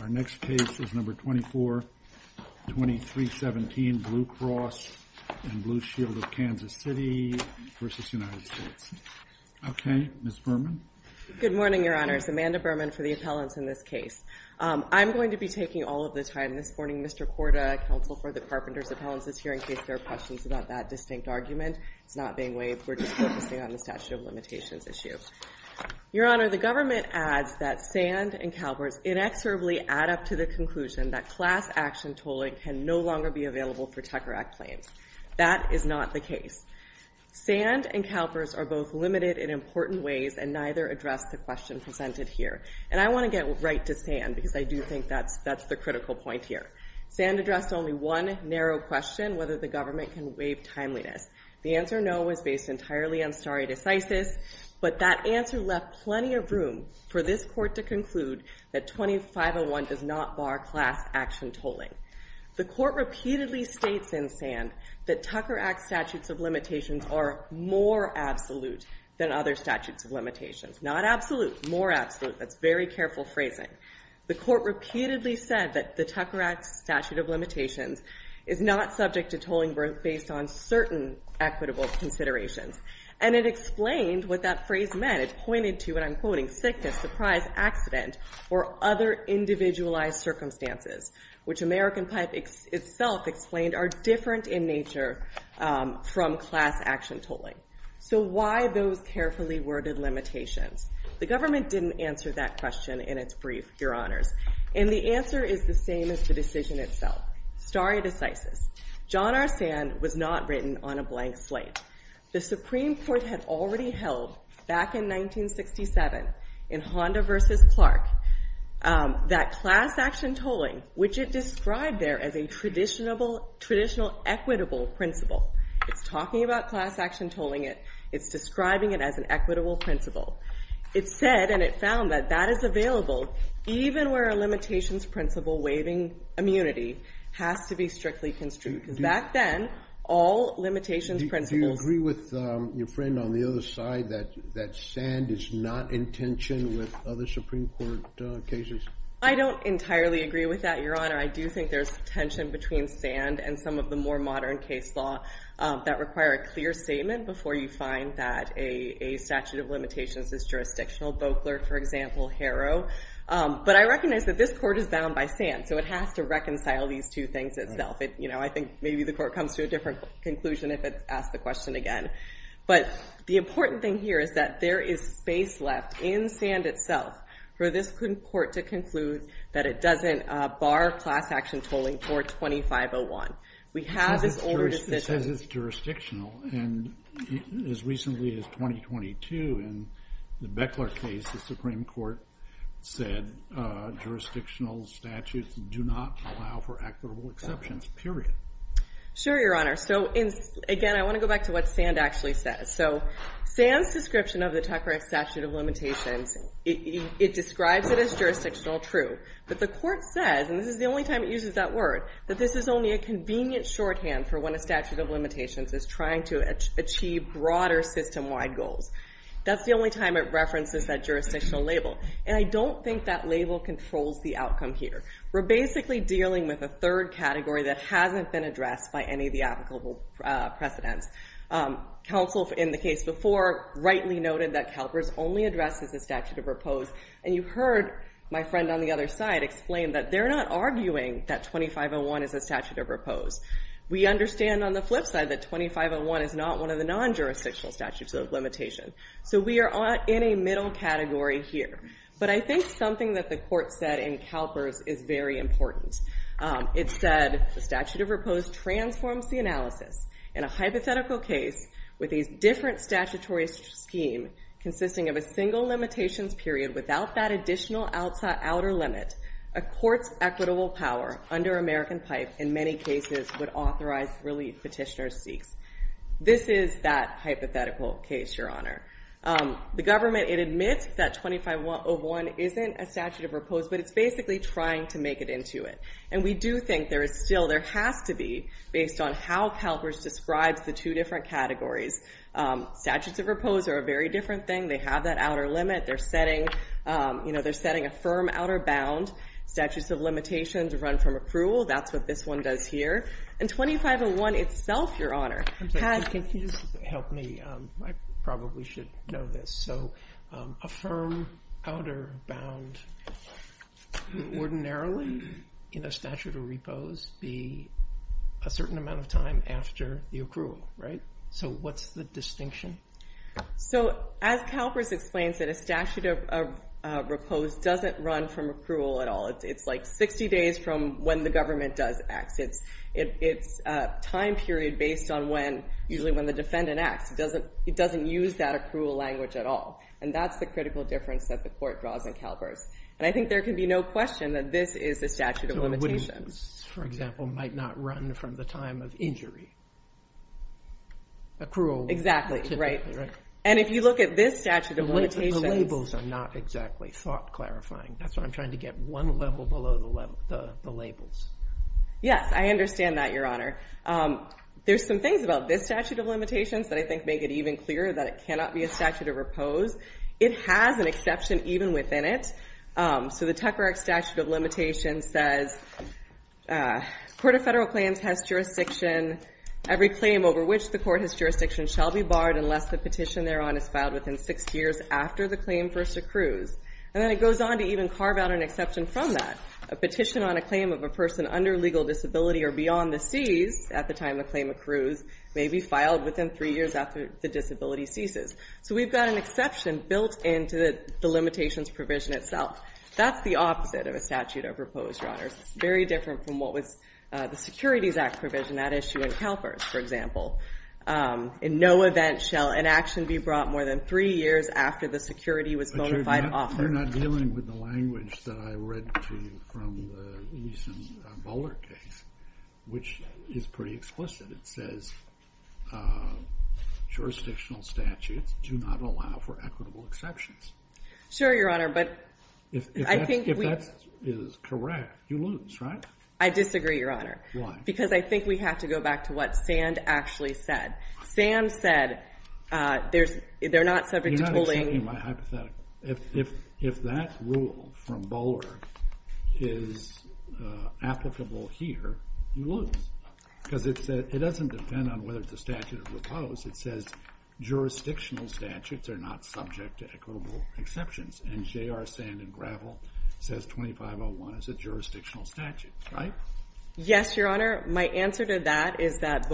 Our next case is number 242317, Blue Cross and Blue Shield of Kansas City versus United States. OK, Ms. Berman. Good morning, Your Honor. It's Amanda Berman for the appellants in this case. I'm going to be taking all of the time this morning. Mr. Korda, counsel for the Carpenters Appellants is here in case there are questions about that distinct argument. It's not being waived. We're just focusing on the statute of limitations issue. Your Honor, the government adds that Sand and Calvert's inexorably add up to the conclusion that class action tolling can no longer be available for Tucker Act claims. That is not the case. Sand and Calvert's are both limited in important ways and neither address the question presented here. And I want to get right to Sand because I do think that's the critical point here. Sand addressed only one narrow question, whether the government can waive timeliness. The answer no was based entirely on stare decisis, but that answer left plenty of room for this court to conclude that 2501 does not bar class action tolling. The court repeatedly states in Sand that Tucker Act statutes of limitations are more absolute than other statutes of limitations. Not absolute, more absolute. That's very careful phrasing. The court repeatedly said that the Tucker Act statute of limitations is not subject to tolling based on certain equitable considerations. And it explained what that phrase meant. It pointed to, and I'm quoting, sickness, surprise, accident, or other individualized circumstances, which American Pipe itself explained are different in nature from class action tolling. So why those carefully worded limitations? The government didn't answer that question in its brief, And the answer is the same as the decision itself. Stare decisis. John R. Sand was not written on a blank slate. The Supreme Court had already held, back in 1967, in Honda versus Clark, that class action tolling, which it described there as a traditional equitable principle. It's talking about class action tolling. It's describing it as an equitable principle. It said, and it found that that is available even where a limitations principle waiving immunity has to be strictly construed. Because back then, all limitations principles. Do you agree with your friend on the other side that Sand is not in tension with other Supreme Court cases? I don't entirely agree with that, your honor. I do think there's tension between Sand and some of the more modern case law that require a clear statement before you find that a statute of limitations is jurisdictional. Boakler, for example, Harrow. But I recognize that this court is bound by Sand, so it has to reconcile these two things itself. I think maybe the court comes to a different conclusion if it's asked the question again. But the important thing here is that there is space left in Sand itself for this court to conclude that it doesn't bar class action tolling for 2501. We have this older decision. It says it's jurisdictional, and as recently as 2022 in the Beckler case, the Supreme Court said jurisdictional statutes do not allow for equitable exceptions, period. Sure, your honor. So again, I want to go back to what Sand actually says. So Sand's description of the Tucker statute of limitations, it describes it as jurisdictional, true. But the court says, and this is the only time it uses that word, that this is only a convenient shorthand for when a statute of limitations is trying to achieve broader system-wide goals. That's the only time it references that jurisdictional label. And I don't think that label controls the outcome here. We're basically dealing with a third category that hasn't been addressed by any of the applicable precedents. Counsel in the case before rightly noted that CalPERS only addresses the statute of repose. And you heard my friend on the other side explain that they're not arguing that 2501 is a statute of repose. We understand on the flip side that 2501 is not one of the non-jurisdictional statutes of limitation. So we are in a middle category here. But I think something that the court said in CalPERS is very important. It said, the statute of repose transforms the analysis in a hypothetical case with a different statutory scheme consisting of a single limitations period without that additional outer limit. A court's equitable power under American pipe in many cases would authorize relief petitioner seeks. This is that hypothetical case, your honor. The government, it admits that 2501 isn't a statute of repose, but it's basically trying to make it into it. And we do think there is still, there has to be based on how CalPERS describes the two different categories. Statutes of repose are a very different thing. They have that outer limit. They're setting a firm outer bound. Statutes of limitations run from approval. That's what this one does here. And 2501 itself, your honor, has confused. Help me, I probably should know this. A firm outer bound ordinarily in a statute of repose be a certain amount of time after the accrual, right? So what's the distinction? So as CalPERS explains it, a statute of repose doesn't run from accrual at all. It's like 60 days from when the government does acts. It's a time period based on when, usually when the defendant acts. It doesn't use that accrual language at all. And that's the critical difference that the court draws in CalPERS. And I think there can be no question that this is a statute of limitations. For example, might not run from the time of injury. Accrual. Exactly, right. And if you look at this statute of limitations. The labels are not exactly thought clarifying. That's what I'm trying to get. One level below the labels. Yes, I understand that, your honor. There's some things about this statute of limitations that I think make it even clearer that it cannot be a statute of repose. It has an exception even within it. So the Tucker Act statute of limitations says court of federal claims has jurisdiction. Every claim over which the court has jurisdiction shall be barred unless the petition thereon is filed within six years after the claim first accrues. And then it goes on to even carve out an exception from that. A petition on a claim of a person under legal disability or beyond the C's at the time the claim accrues may be filed within three years after the disability ceases. So we've got an exception built into the limitations provision itself. That's the opposite of a statute of repose, your honor. It's very different from what was the Securities Act provision, that issue in CalPERS, for example. In no event shall an action be brought more than three years after the security was bona fide offered. But you're not dealing with the language that I read to you from the recent Boulder case, which is pretty explicit. It says jurisdictional statutes do not allow for equitable exceptions. Sure, your honor. But I think we- If that is correct, you lose, right? I disagree, your honor. Why? Because I think we have to go back to what Sand actually said. Sand said they're not subject to bullying. You're not accepting my hypothetical. If that rule from Boulder is applicable here, you lose. Because it doesn't depend on whether it's a statute of repose. It says jurisdictional statutes are not subject to equitable exceptions. And JR Sand and Gravel says 2501 is a jurisdictional statute, right? Yes, your honor. My answer to that is that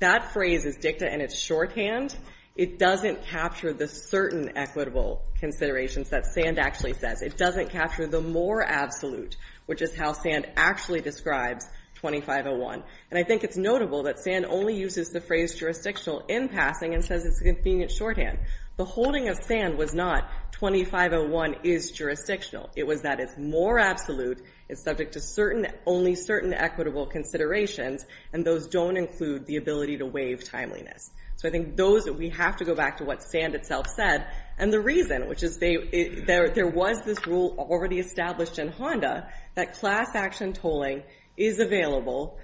that phrase is dicta and it's shorthand. It doesn't capture the certain equitable considerations that Sand actually says. It doesn't capture the more absolute, which is how Sand actually describes 2501. And I think it's notable that Sand only uses the phrase jurisdictional in passing and says it's a convenient shorthand. The holding of Sand was not 2501 is jurisdictional. It was that it's more absolute, it's subject to only certain equitable considerations, and those don't include the ability to waive timeliness. So I think we have to go back to what Sand itself said. And the reason, which is there was this rule already established in Honda that class action tolling is available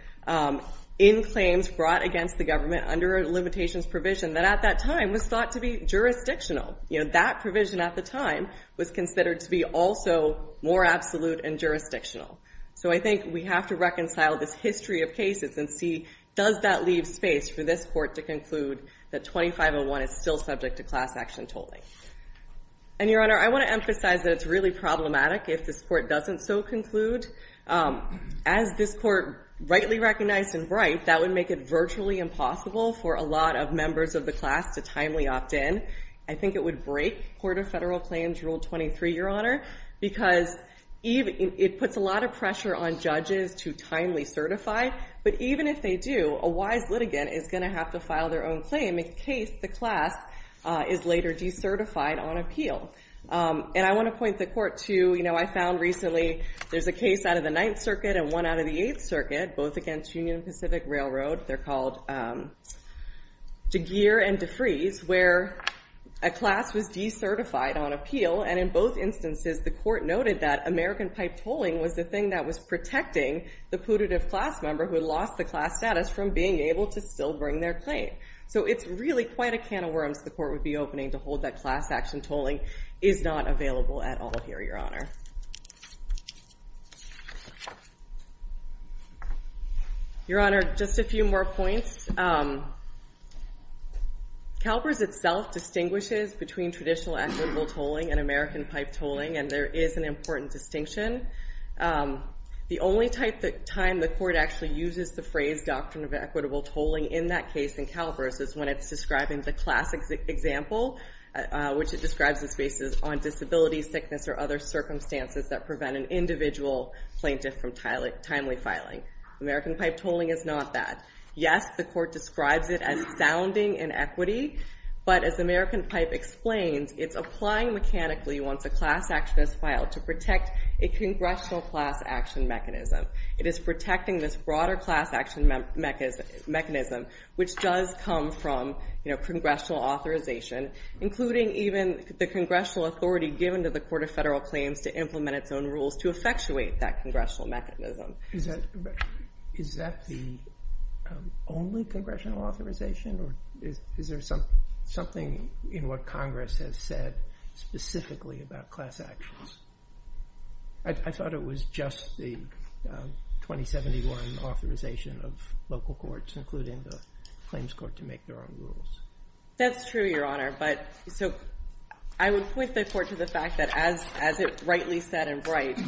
in claims brought against the government under a limitations provision that at that time was thought to be jurisdictional. That provision at the time was considered to be also more absolute and jurisdictional. So I think we have to reconcile this history of cases and see does that leave space for this court to conclude that 2501 is still subject to class action tolling. And your honor, I want to emphasize that it's really problematic if this court doesn't so conclude. As this court rightly recognized and right, that would make it virtually impossible for a lot of members of the class to timely opt in. I think it would break Court of Federal Claims Rule 23, your honor, because it puts a lot of pressure on judges to timely certify. But even if they do, a wise litigant is going to have to file their own claim in case the class is later decertified on appeal. And I want to point the court to, I found recently there's a case out of the Ninth Circuit and one out of the Eighth Circuit, both against Union Pacific Railroad. They're called DeGere and DeFries, where a class was decertified on appeal. And in both instances, the court noted that American pipe tolling was the thing that was protecting the putative class member who lost the class status from being able to still bring their claim. So it's really quite a can of worms the court would be opening to hold that class action tolling is not available at all here, your honor. Your honor, just a few more points. CalPERS itself distinguishes between traditional equitable tolling and American pipe tolling, and there is an important distinction. The only time the court actually uses the phrase doctrine of equitable tolling in that case in CalPERS is when it's describing the classic example, which it describes as based on disability, sickness, or other circumstances that prevent an individual plaintiff from timely filing. American pipe tolling is not that. Yes, the court describes it as sounding in equity, but as American pipe explains, it's applying mechanically once a class action is filed to protect a congressional class action mechanism. It is protecting this broader class action mechanism, which does come from congressional authorization, including even the congressional authority given to the Court of Federal Claims to implement its own rules to effectuate that congressional mechanism. Is that the only congressional authorization, or is there something in what Congress has said specifically about class actions? I thought it was just the 2071 authorization of local courts, including the Claims Court, to make their own rules. That's true, Your Honor. So I would point the court to the fact that as it rightly said in Bright,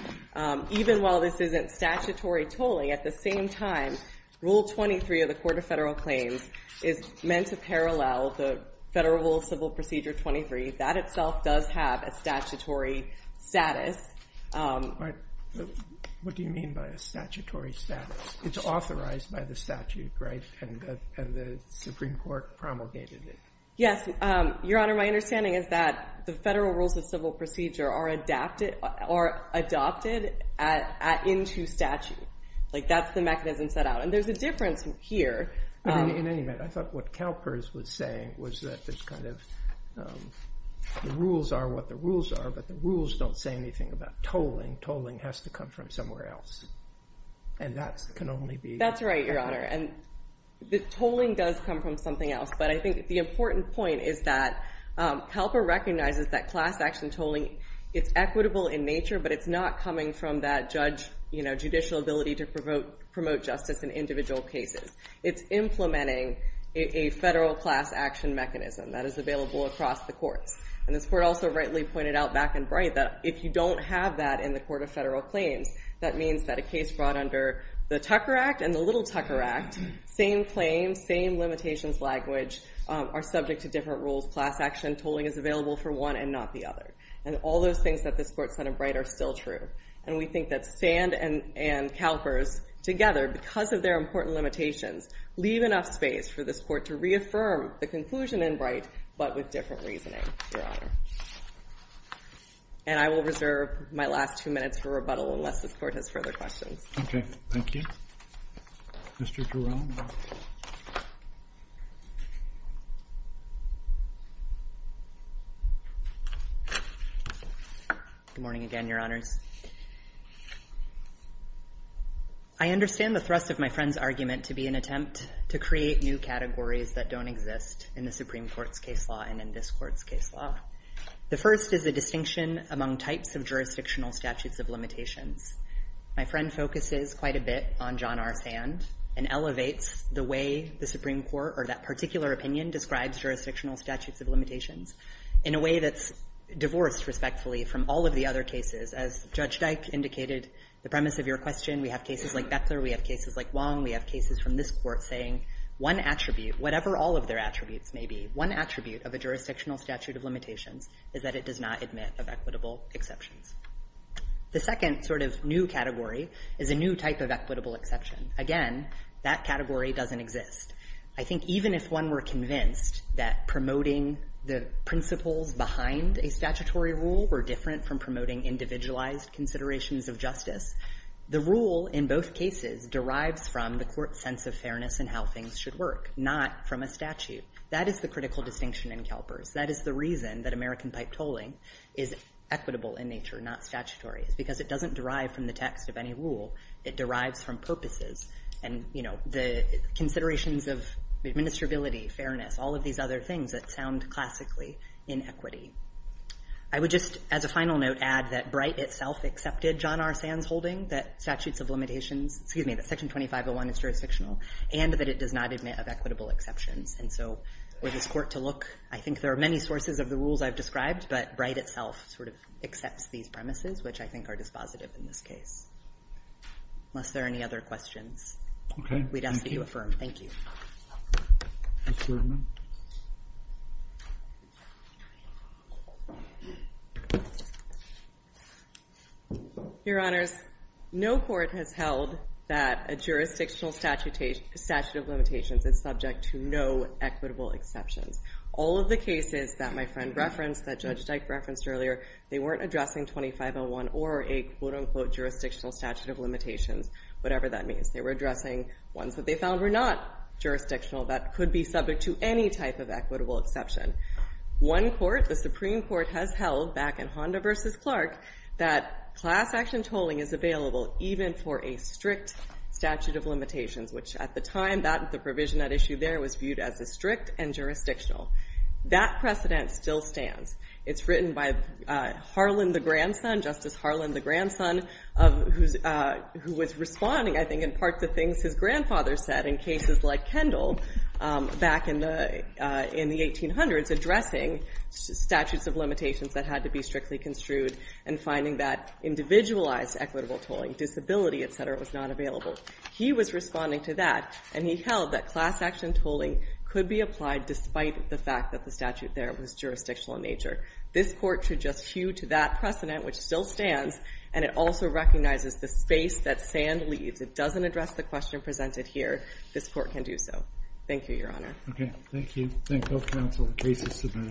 even while this isn't statutory tolling, at the same time, Rule 23 of the Court of Federal Claims is meant to parallel the Federal Civil Procedure 23. That itself does have a statutory status. What do you mean by a statutory status? It's authorized by the statute, right? And the Supreme Court promulgated it. Yes, Your Honor, my understanding is that the federal rules of civil procedure are adopted into statute. That's the mechanism set out. And there's a difference here. In any event, I thought what CalPERS was saying was that the rules are what the rules are, but the rules don't say anything about tolling. Tolling has to come from somewhere else. And that can only be. That's right, Your Honor. The tolling does come from something else, but I think the important point is that CalPERS recognizes that class action tolling, it's equitable in nature, but it's not coming from that judicial ability to promote justice in individual cases. It's implementing a federal class action mechanism that is available across the courts. And this court also rightly pointed out back in Bright that if you don't have that in the Court of Federal Claims, that means that a case brought under the Tucker Act and the Little Tucker Act, same claim, same limitations language, are subject to different rules. Class action tolling is available for one and not the other. And all those things that this court said in Bright are still true. And we think that Sand and CalPERS, together, because of their important limitations, leave enough space for this court to reaffirm the conclusion in Bright, but with different reasoning, Your Honor. And I will reserve my last two minutes for rebuttal, unless this court has further questions. OK. Thank you. Mr. Giroir? Good morning again, Your Honors. I understand the thrust of my friend's argument to be an attempt to create new categories that don't exist in the Supreme Court's case law and in this court's case law. The first is the distinction among types of jurisdictional statutes of limitations. My friend focuses quite a bit on John R. Sand and elevates the way the Supreme Court, or that particular opinion, describes jurisdictional statutes of limitations in a way that's divorced, respectfully, from all of the other cases. As Judge Dyke indicated, the premise of your question, we have cases like Beckler. We have cases like Wong. We have cases from this court saying, one attribute, whatever all of their attributes may be, one attribute of a jurisdictional statute of limitations is that it does not permit of equitable exceptions. The second new category is a new type of equitable exception. Again, that category doesn't exist. I think even if one were convinced that promoting the principles behind a statutory rule were different from promoting individualized considerations of justice, the rule in both cases derives from the court's sense of fairness and how things should work, not from a statute. That is the critical distinction in Kelpers. That is the reason that American pipe tolling is equitable in nature, not statutory, is because it doesn't derive from the text of any rule. It derives from purposes and the considerations of administrability, fairness, all of these other things that sound classically inequity. I would just, as a final note, add that Bright itself accepted John R. Sands' holding that statutes of limitations, excuse me, that section 2501 is jurisdictional, and that it does not admit of equitable exceptions. And so for this court to look, I think there are many sources of the rules I've described, but Bright itself sort of accepts these premises, which I think are dispositive in this case. Unless there are any other questions, we'd ask that you affirm. Thank you. Your Honors, no court has held that a jurisdictional statute of limitations is subject to no equitable exceptions. All of the cases that my friend referenced, that Judge Dyke referenced earlier, they weren't addressing 2501 or a, quote unquote, jurisdictional statute of limitations, whatever that means. They were addressing ones that they found were not jurisdictional that could be subject to any type of equitable exception. One court, the Supreme Court, has held, back in Honda versus Clark, that class action tolling is available even for a strict statute of limitations, which at the time, the provision at issue there was viewed as a strict and jurisdictional. That precedent still stands. It's written by Harlan the grandson, Justice Harlan the grandson, who was responding, I think, in part to things his grandfather said in cases like Kendall back in the 1800s, addressing statutes of limitations that had to be strictly construed and finding that individualized equitable tolling, disability, et cetera, was not available. He was responding to that, and he held that class action tolling could be applied despite the fact that the statute there was jurisdictional in nature. This court should just hew to that precedent, which still stands, and it also recognizes the space that sand leaves. It doesn't address the question presented here. This court can do so. Thank you, Your Honor. Thank you. Thank both counsel and cases today.